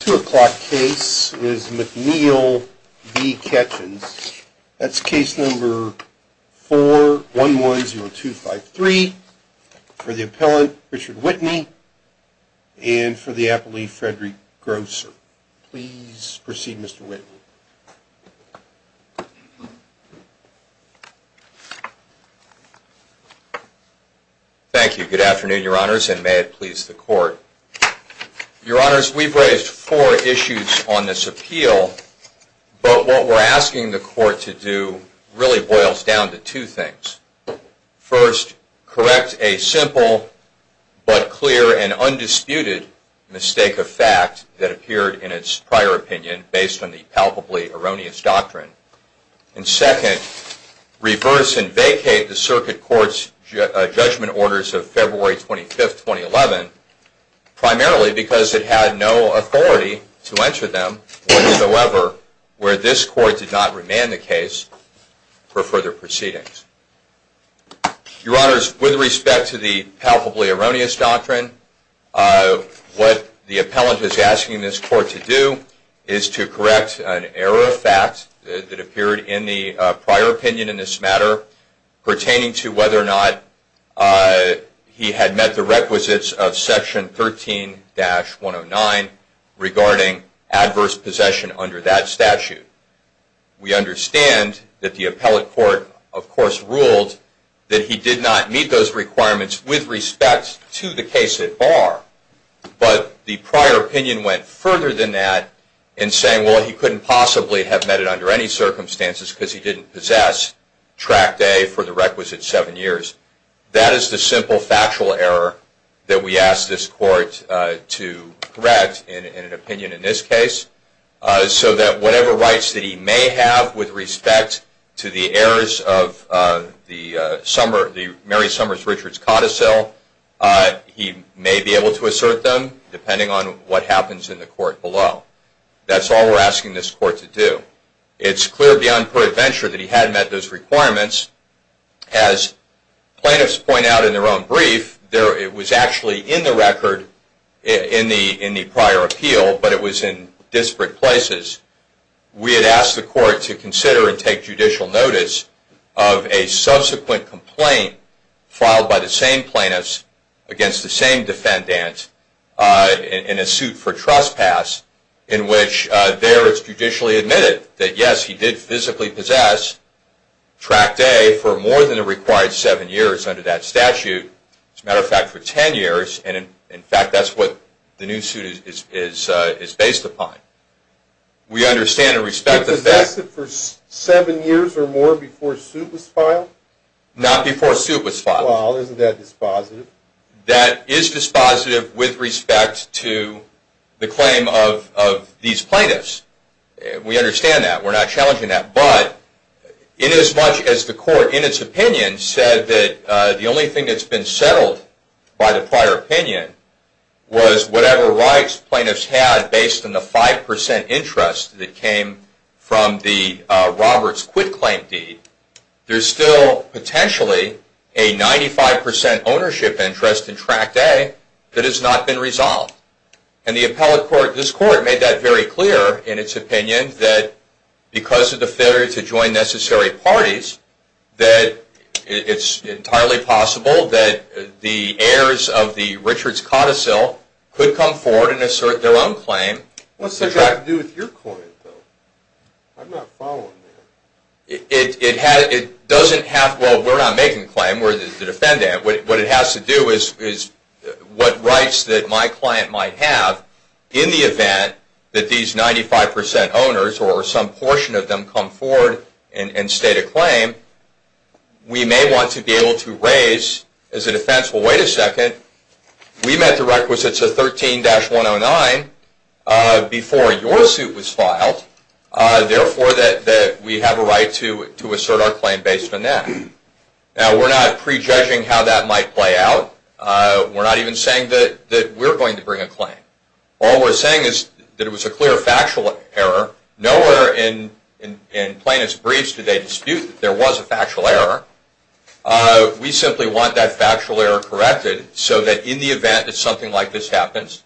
2 o'clock case is McNeil v. Ketchens. That's case number 4110253 for the appellant Richard Whitney and for the appellee Frederick Grosser. Please proceed Mr. Whitney. Thank you. Good afternoon, your honors, and may it please the court. Your honors, we've raised four issues on this appeal, but what we're asking the court to do really boils down to two things. First, correct a simple but clear and undisputed mistake of fact that appeared in its prior opinion based on the palpably erroneous evidence. Second, reverse and vacate the circuit court's judgment orders of February 25, 2011, primarily because it had no authority to enter them whatsoever where this court did not remand the case for further proceedings. Your honors, with respect to the palpably erroneous doctrine, what the appellant is asking this court to do is to correct an error of fact that appeared in the prior opinion in this matter pertaining to whether or not he had met the requisites of section 13-109 regarding adverse possession under that statute. We understand that the appellate court, of course, ruled that he did not meet those requirements with respect to the case at bar, but the prior opinion went further than that in saying, well, he couldn't possibly have met it under any circumstances because he didn't possess tract A for the requisite seven years. That is the simple factual error that we ask this court to correct in an opinion in this case, so that whatever rights that he may have with respect to the errors of the Mary Summers Richards codicil, he may be able to assert them depending on what happens in the court below. That's all we're asking this court to do. It's clear beyond peradventure that he hadn't met those requirements. As plaintiffs point out in their own brief, it was actually in the record in the prior appeal, but it was in disparate places. We had asked the court to consider and take judicial notice of a subsequent complaint filed by the same plaintiffs against the same defendant in a suit for trespass in which there it's judicially admitted that, yes, he did physically possess tract A for more than the required seven years under that statute. As a matter of fact, for ten years, and in fact, that's what the new suit is based upon. We understand and respect the fact... He possessed it for seven years or more before a suit was filed? Not before a suit was filed. Well, isn't that dispositive? That is dispositive with respect to the claim of these plaintiffs. We understand that. We're not challenging that. But in as much as the court, in its opinion, said that the only thing that's been settled by the prior opinion was whatever rights plaintiffs had based on the 5% interest that came from the Roberts quit-claim deed, there's still potentially a 95% ownership interest in tract A that has not been resolved. And the appellate court, this court, made that very clear in its opinion that because of the failure to join necessary parties, that it's entirely possible that the heirs of the Richards Codicil could come forward and assert their own claim. What's that got to do with your client, though? I'm not following that. It doesn't have... Well, we're not making the claim. We're the defendant. What it has to do is what rights that my client might have in the event that these 95% owners or some portion of them come forward and state a claim, we may want to be able to raise as a defense, well, wait a second. We met the requisites of 13-109 before your suit was filed. Therefore, we have a right to assert our claim based on that. Now, we're not prejudging how that might play out. We're not even saying that we're going to bring a claim. All we're saying is that it was a clear factual error. Nowhere in plaintiff's briefs do they dispute that there was a factual error. We simply want that factual error corrected so that in the event that something like this happens,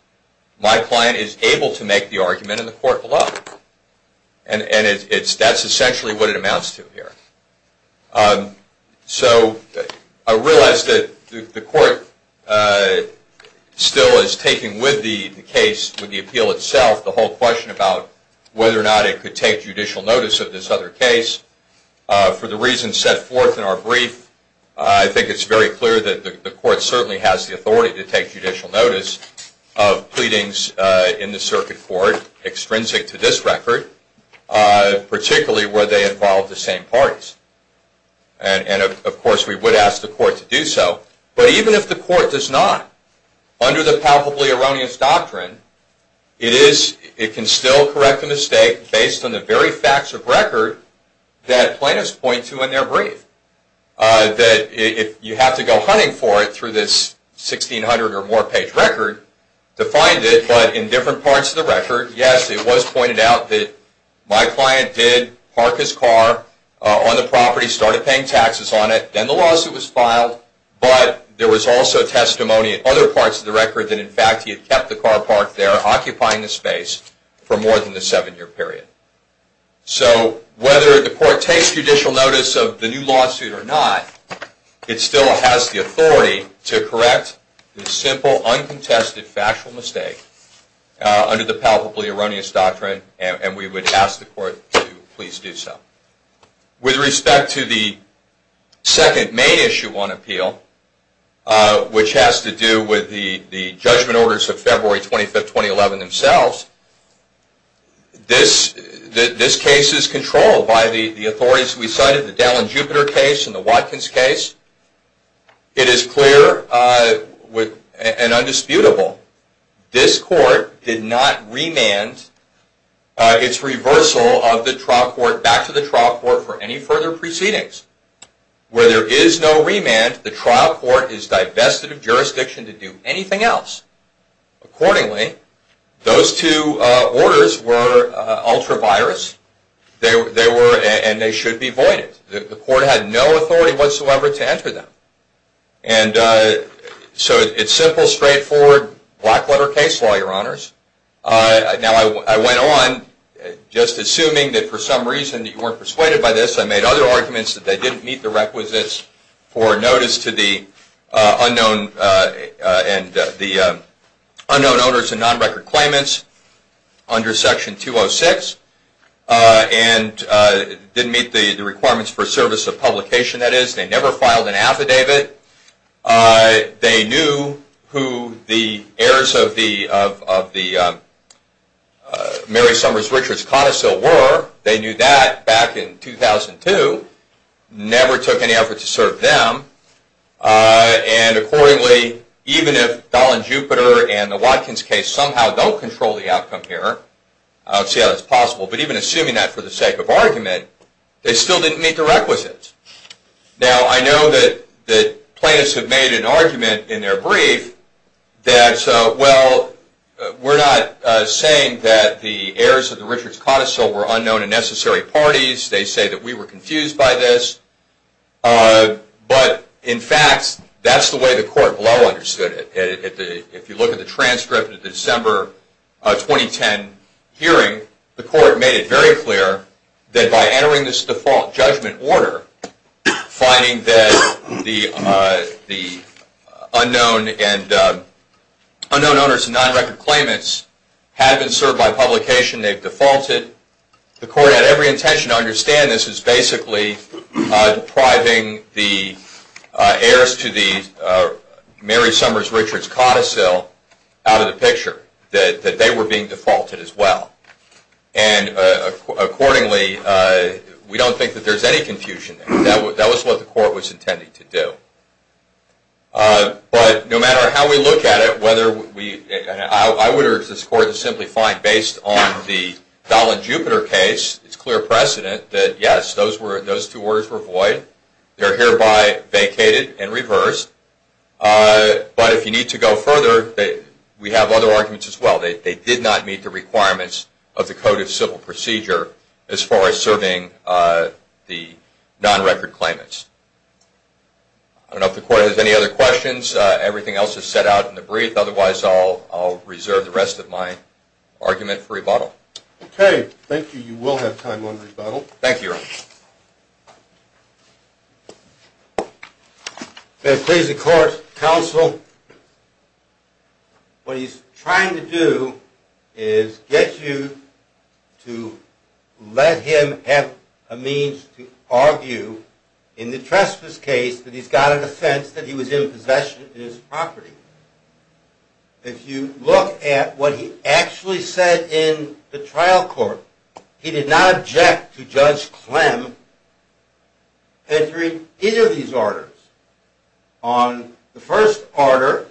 my client is able to make the argument in the court below. And that's essentially what it amounts to here. So I realize that the court still is taking with the case, with the appeal itself, the whole question about whether or not it could take judicial notice of this other case for the reasons set forth in our brief. I think it's very clear that the court certainly has the authority to take judicial notice of pleadings in the circuit court extrinsic to this record, particularly where they involve the same parties. And, of course, we would ask the court to do so. But even if the court does not, under the palpably erroneous doctrine, it can still correct the mistake based on the very facts of record that plaintiffs point to in their brief. That you have to go hunting for it through this 1,600 or more page record to find it. But in different parts of the record, yes, it was pointed out that my client did park his car on the property, started paying taxes on it, then the lawsuit was filed, but there was also testimony in other parts of the record that, in fact, he had kept the car parked there occupying the space for more than the seven-year period. So whether the court takes judicial notice of the new lawsuit or not, it still has the authority to correct the simple, uncontested, factual mistake under the palpably erroneous doctrine, and we would ask the court to please do so. With respect to the second main issue on appeal, which has to do with the judgment orders of February 25, 2011 themselves, this case is controlled by the authorities we cited, the Dallin-Jupiter case and the Watkins case. It is clear and undisputable. This court did not remand its reversal of the trial court back to the trial court for any further proceedings. Where there is no remand, the trial court is divested of jurisdiction to do anything else. Accordingly, those two orders were ultra-virus, and they should be voided. The court had no authority whatsoever to enter them. So it's simple, straightforward, black-letter case law, Your Honors. Now, I went on just assuming that for some reason you weren't persuaded by this. I made other arguments that they didn't meet the requisites for notice to the unknown owners and non-record claimants under Section 206 and didn't meet the requirements for service of publication, that is. They never filed an affidavit. They knew who the heirs of the Mary Summers Richards connoisseur were. They knew that back in 2002. Never took any effort to serve them. And accordingly, even if Dallin-Jupiter and the Watkins case somehow don't control the outcome here, I don't see how that's possible, but even assuming that for the sake of argument, they still didn't meet the requisites. Now, I know that plaintiffs have made an argument in their brief that, well, we're not saying that the heirs of the Richards connoisseur were unknown and necessary parties. They say that we were confused by this. But, in fact, that's the way the court below understood it. If you look at the transcript of the December 2010 hearing, the court made it very clear that by entering this default judgment order, finding that the unknown owners and non-record claimants had been served by publication, they've defaulted, the court had every intention to understand this as basically depriving the heirs to the Mary Summers Richards codicil out of the picture, that they were being defaulted as well. And accordingly, we don't think that there's any confusion there. That was what the court was intending to do. But no matter how we look at it, I would urge this court to simply find, based on the Dallin-Jupiter case, it's clear precedent that, yes, those two orders were void. They're hereby vacated and reversed. But if you need to go further, we have other arguments as well. They did not meet the requirements of the codicil procedure as far as serving the non-record claimants. I don't know if the court has any other questions. Everything else is set out in the brief. Otherwise, I'll reserve the rest of my argument for rebuttal. Okay, thank you. You will have time on rebuttal. Thank you, Your Honor. May it please the court, counsel. What he's trying to do is get you to let him have a means to argue in the trespass case that he's got an offense that he was in possession in his property. If you look at what he actually said in the trial court, he did not object to Judge Clem entering either of these orders. On the first order,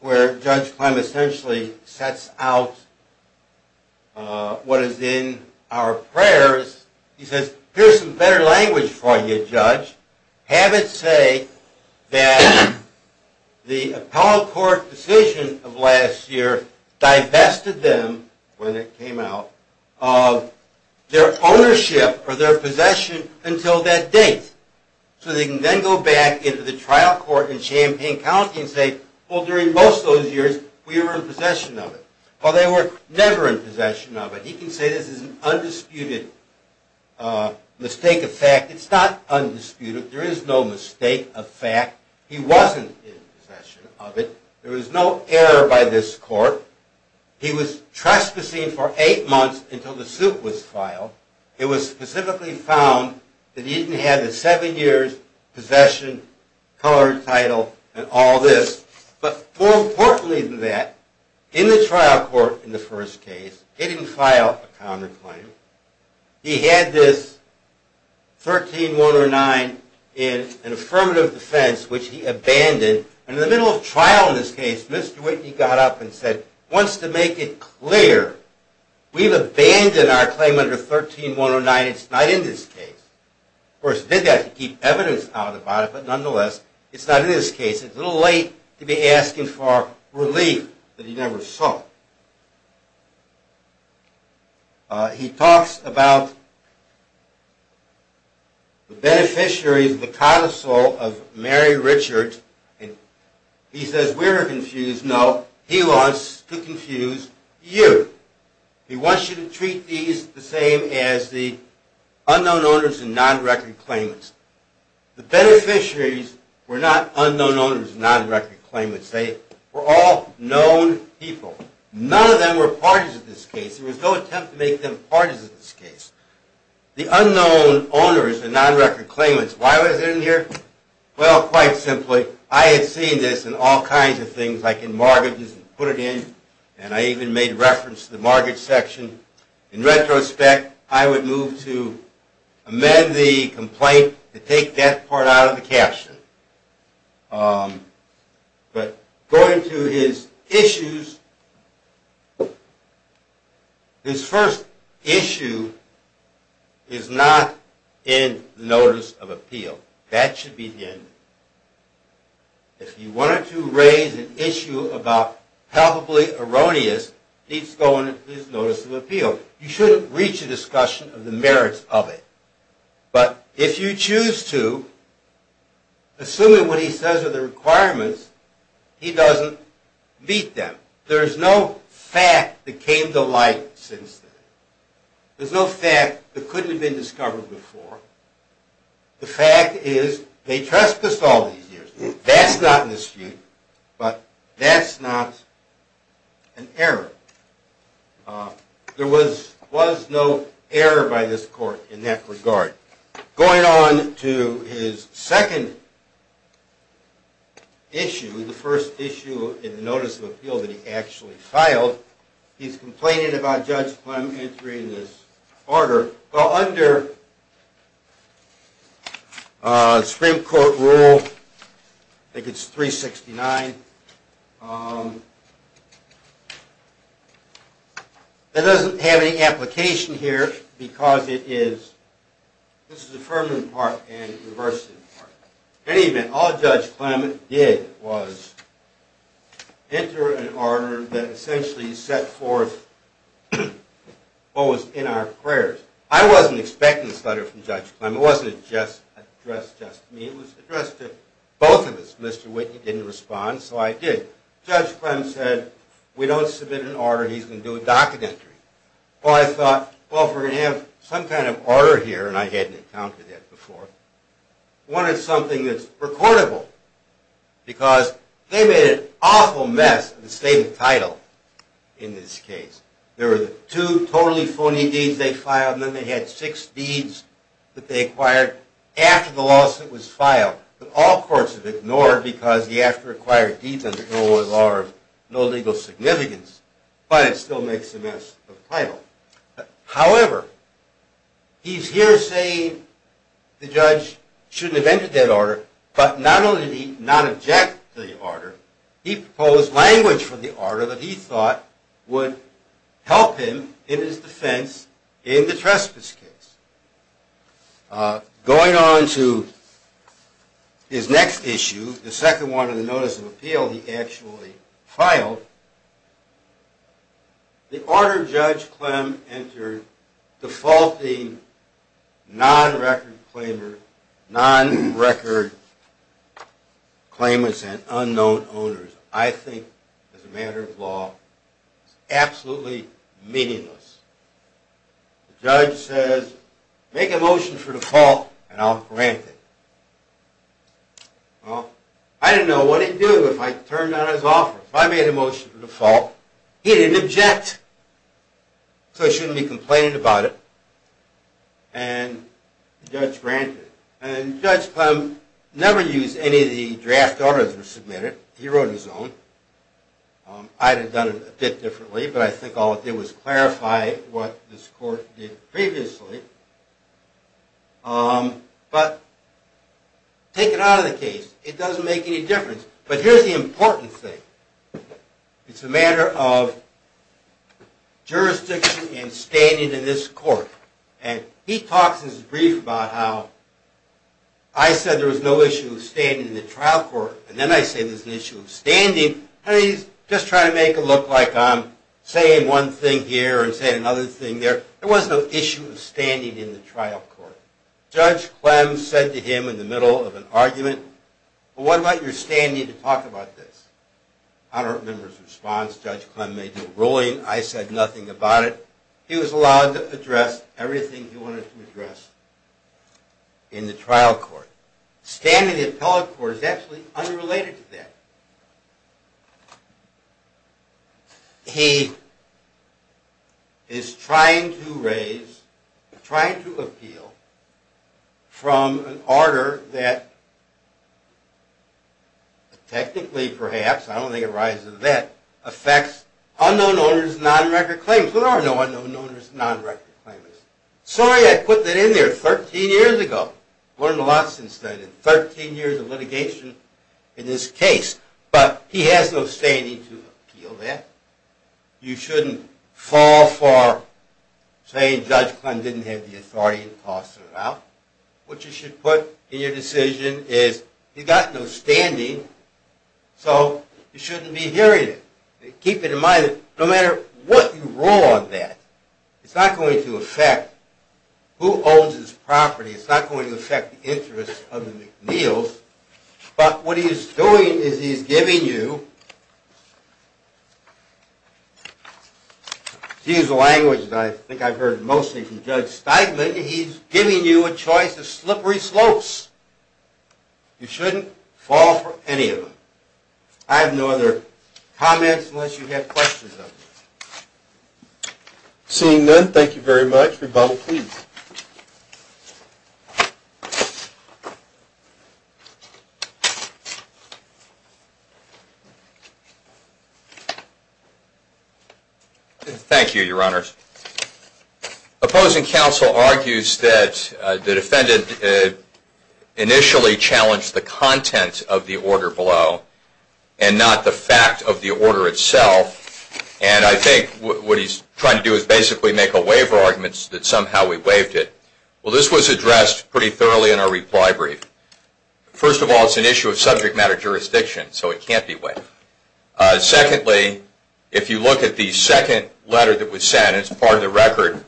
where Judge Clem essentially sets out what is in our prayers, he says, here's some better language for you, Judge. Have it say that the appellate court decision of last year divested them, when it came out, of their ownership or their possession until that date. So they can then go back into the trial court in Champaign County and say, well, during most of those years, we were in possession of it. Well, they were never in possession of it. He can say this is an undisputed mistake of fact. It's not undisputed. There is no mistake of fact. He wasn't in possession of it. There was no error by this court. He was trespassing for eight months until the suit was filed. It was specifically found that he didn't have the seven years' possession, colored title, and all this. But more importantly than that, in the trial court in the first case, he didn't file a counterclaim. He had this 13-109 in an affirmative defense, which he abandoned. And in the middle of trial in this case, Mr. Whitney got up and said, once to make it clear, we've abandoned our claim under 13-109. It's not in this case. Of course, he did that to keep evidence out about it. But nonetheless, it's not in this case. It's a little late to be asking for relief that he never sought. He talks about the beneficiaries, the codicil of Mary Richard, and he says we're confused. No, he wants to confuse you. He wants you to treat these the same as the unknown owners and non-record claimants. The beneficiaries were not unknown owners and non-record claimants. They were all known people. None of them were parties in this case. There was no attempt to make them parties in this case. The unknown owners and non-record claimants, why was it in here? Well, quite simply, I had seen this in all kinds of things, like in mortgages and put it in, and I even made reference to the mortgage section. In retrospect, I would move to amend the complaint to take that part out of the caption. But going to his issues, his first issue is not in the Notice of Appeal. That should be the end. If you wanted to raise an issue about palpably erroneous, it needs to go into his Notice of Appeal. You shouldn't reach a discussion of the merits of it. But if you choose to, assuming what he says are the requirements, he doesn't meet them. There is no fact that came to light since then. There's no fact that couldn't have been discovered before. The fact is they trespassed all these years. That's not in this view, but that's not an error. There was no error by this court in that regard. Going on to his second issue, the first issue in the Notice of Appeal that he actually filed, he's complaining about Judge Plum entering this order. Well, under Supreme Court rule, I think it's 369, it doesn't have any application here because it is this is the affirmative part and the reversive part. In any event, all Judge Plum did was enter an order that essentially set forth what was in our prayers. I wasn't expecting this letter from Judge Plum. It wasn't addressed just to me. It was addressed to both of us. Mr. Whitney didn't respond, so I did. Judge Plum said, we don't submit an order. He's going to do a docket entry. Well, I thought, well, if we're going to have some kind of order here, and I hadn't encountered that before, I wanted something that's recordable. Because they made an awful mess of the state of title in this case. There were two totally phony deeds they filed, and then they had six deeds that they acquired after the lawsuit was filed. But all courts have ignored it because you have to require deeds under Illinois law of no legal significance. But it still makes a mess of title. However, he's here saying the judge shouldn't have entered that order. But not only did he not object to the order, he proposed language for the order that he thought would help him in his defense in the trespass case. Going on to his next issue, the second one in the notice of appeal he actually filed, the order Judge Clem entered defaulting non-record claimants and unknown owners, I think, as a matter of law, is absolutely meaningless. The judge says, make a motion for default, and I'll grant it. Well, I didn't know what he'd do if I turned down his offer. If I made a motion for default, he didn't object. So he shouldn't be complaining about it, and the judge granted it. And Judge Clem never used any of the draft orders that were submitted. He wrote his own. I'd have done it a bit differently, but I think all it did was clarify what this court did previously. But take it out of the case. It doesn't make any difference. But here's the important thing. It's a matter of jurisdiction and standing in this court. And he talks in his brief about how I said there was no issue of standing in the trial court, and then I say there's an issue of standing, and he's just trying to make it look like I'm saying one thing here and saying another thing there. There was no issue of standing in the trial court. Judge Clem said to him in the middle of an argument, well, what about your standing to talk about this? I don't remember his response. Judge Clem made a ruling. I said nothing about it. He was allowed to address everything he wanted to address in the trial court. Standing in the appellate court is actually unrelated to that. He is trying to raise, trying to appeal from an order that technically perhaps, I don't think it rises to that, affects unknown owners of non-record claims. There are no unknown owners of non-record claims. Sorry I put that in there 13 years ago. I've learned a lot since then. 13 years of litigation in this case. But he has no standing to appeal that. You shouldn't fall for saying Judge Clem didn't have the authority to toss it out. What you should put in your decision is you've got no standing, so you shouldn't be hearing it. Keep it in mind that no matter what you rule on that, it's not going to affect who owns this property. It's not going to affect the interests of the McNeils. But what he's doing is he's giving you, to use the language that I think I've heard mostly from Judge Steigman, he's giving you a choice of slippery slopes. You shouldn't fall for any of them. I have no other comments unless you have questions of me. Seeing none, thank you very much. Mr. Bowe, please. Thank you, Your Honors. Opposing counsel argues that the defendant initially challenged the content of the order below and not the fact of the order itself. And I think what he's trying to do is basically make a waiver argument that somehow we waived it. Well, this was addressed pretty thoroughly in our reply brief. First of all, it's an issue of subject matter jurisdiction, so it can't be waived. Secondly, if you look at the second letter that was sent as part of the record,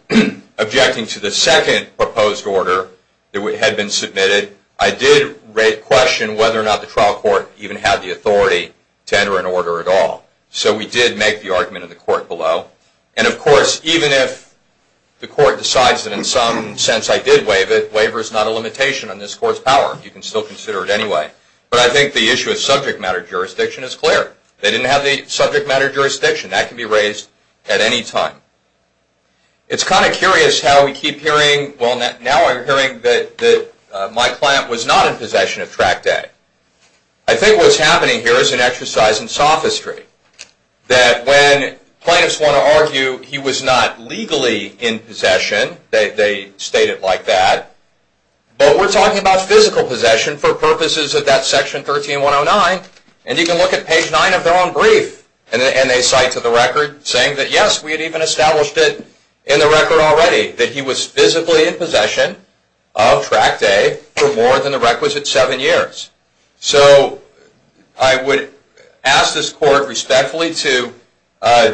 objecting to the second proposed order that had been submitted, I did question whether or not the trial court even had the authority to enter an order at all. So we did make the argument in the court below. And of course, even if the court decides that in some sense I did waive it, waiver is not a limitation on this court's power. You can still consider it anyway. But I think the issue of subject matter jurisdiction is clear. They didn't have the subject matter jurisdiction. That can be raised at any time. It's kind of curious how we keep hearing, well, now we're hearing that my client was not in possession of Track Day. I think what's happening here is an exercise in sophistry, that when plaintiffs want to argue he was not legally in possession, they state it like that, but we're talking about physical possession for purposes of that Section 13109. And you can look at page 9 of their own brief, and they cite to the record saying that, yes, we had even established it in the record already, that he was physically in possession of Track Day for more than the requisite seven years. So I would ask this court respectfully to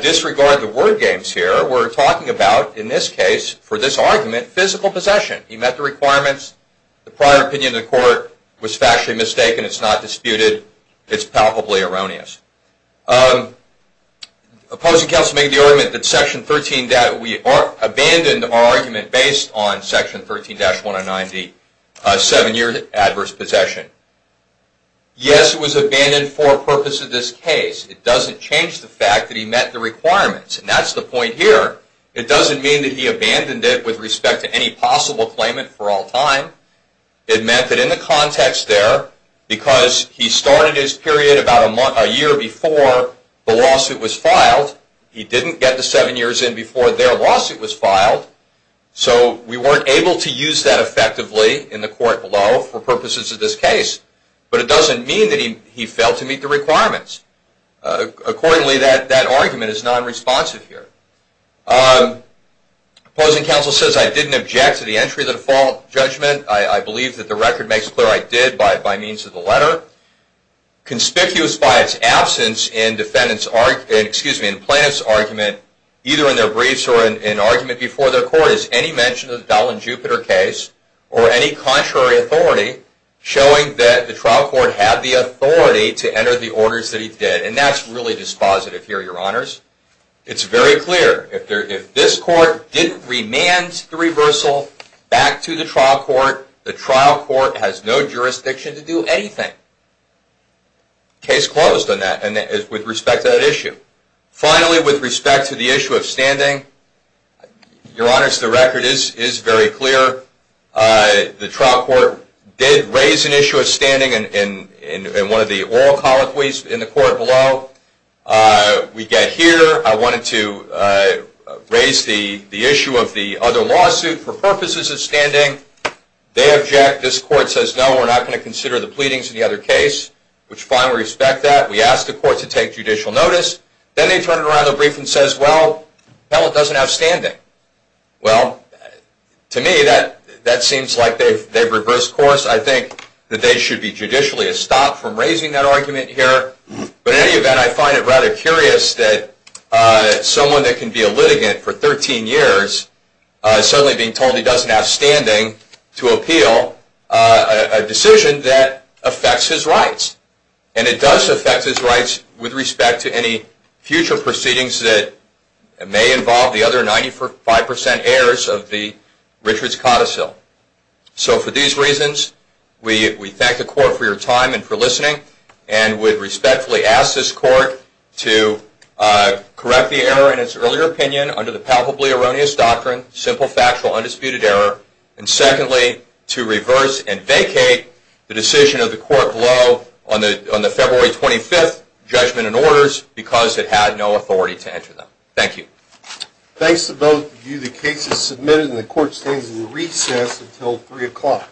disregard the word games here. We're talking about, in this case, for this argument, physical possession. He met the requirements. The prior opinion of the court was factually mistaken. It's not disputed. It's palpably erroneous. Opposing counsel made the argument that Section 13, that we abandoned our argument based on Section 13-109, the seven-year adverse possession. Yes, it was abandoned for a purpose of this case. It doesn't change the fact that he met the requirements. And that's the point here. It doesn't mean that he abandoned it with respect to any possible claimant for all time. It meant that in the context there, because he started his period about a year before the lawsuit was filed, he didn't get the seven years in before their lawsuit was filed. So we weren't able to use that effectively in the court below for purposes of this case. But it doesn't mean that he failed to meet the requirements. Accordingly, that argument is non-responsive here. Opposing counsel says, I didn't object to the entry of the default judgment. I believe that the record makes it clear I did by means of the letter. Conspicuous by its absence in plaintiff's argument, either in their briefs or in argument before their court, is any mention of the Dallin-Jupiter case or any contrary authority showing that the trial court had the authority to enter the orders that he did. And that's really dispositive here, Your Honors. It's very clear. If this court didn't remand the reversal back to the trial court, the trial court has no jurisdiction to do anything. Case closed on that, with respect to that issue. Finally, with respect to the issue of standing, Your Honors, the record is very clear. The trial court did raise an issue of standing in one of the oral colloquies in the court below. We get here. I wanted to raise the issue of the other lawsuit for purposes of standing. They object. This court says, No, we're not going to consider the pleadings in the other case. Which, fine, we respect that. We ask the court to take judicial notice. Then they turn around their brief and says, Well, the appellate doesn't have standing. Well, to me, that seems like they've reversed course. I think that they should be judicially stopped from raising that argument here. In any event, I find it rather curious that someone that can be a litigant for 13 years is suddenly being told he doesn't have standing to appeal a decision that affects his rights. It does affect his rights with respect to any future proceedings that may involve the other 95% heirs of the Richards-Cottesill. For these reasons, we thank the court for your time and for listening. We respectfully ask this court to correct the error in its earlier opinion under the palpably erroneous doctrine, simple factual undisputed error. Secondly, to reverse and vacate the decision of the court below on the February 25th judgment and orders because it had no authority to enter them. Thank you. Thanks to both of you. The case is submitted and the court stands in recess until 3 o'clock.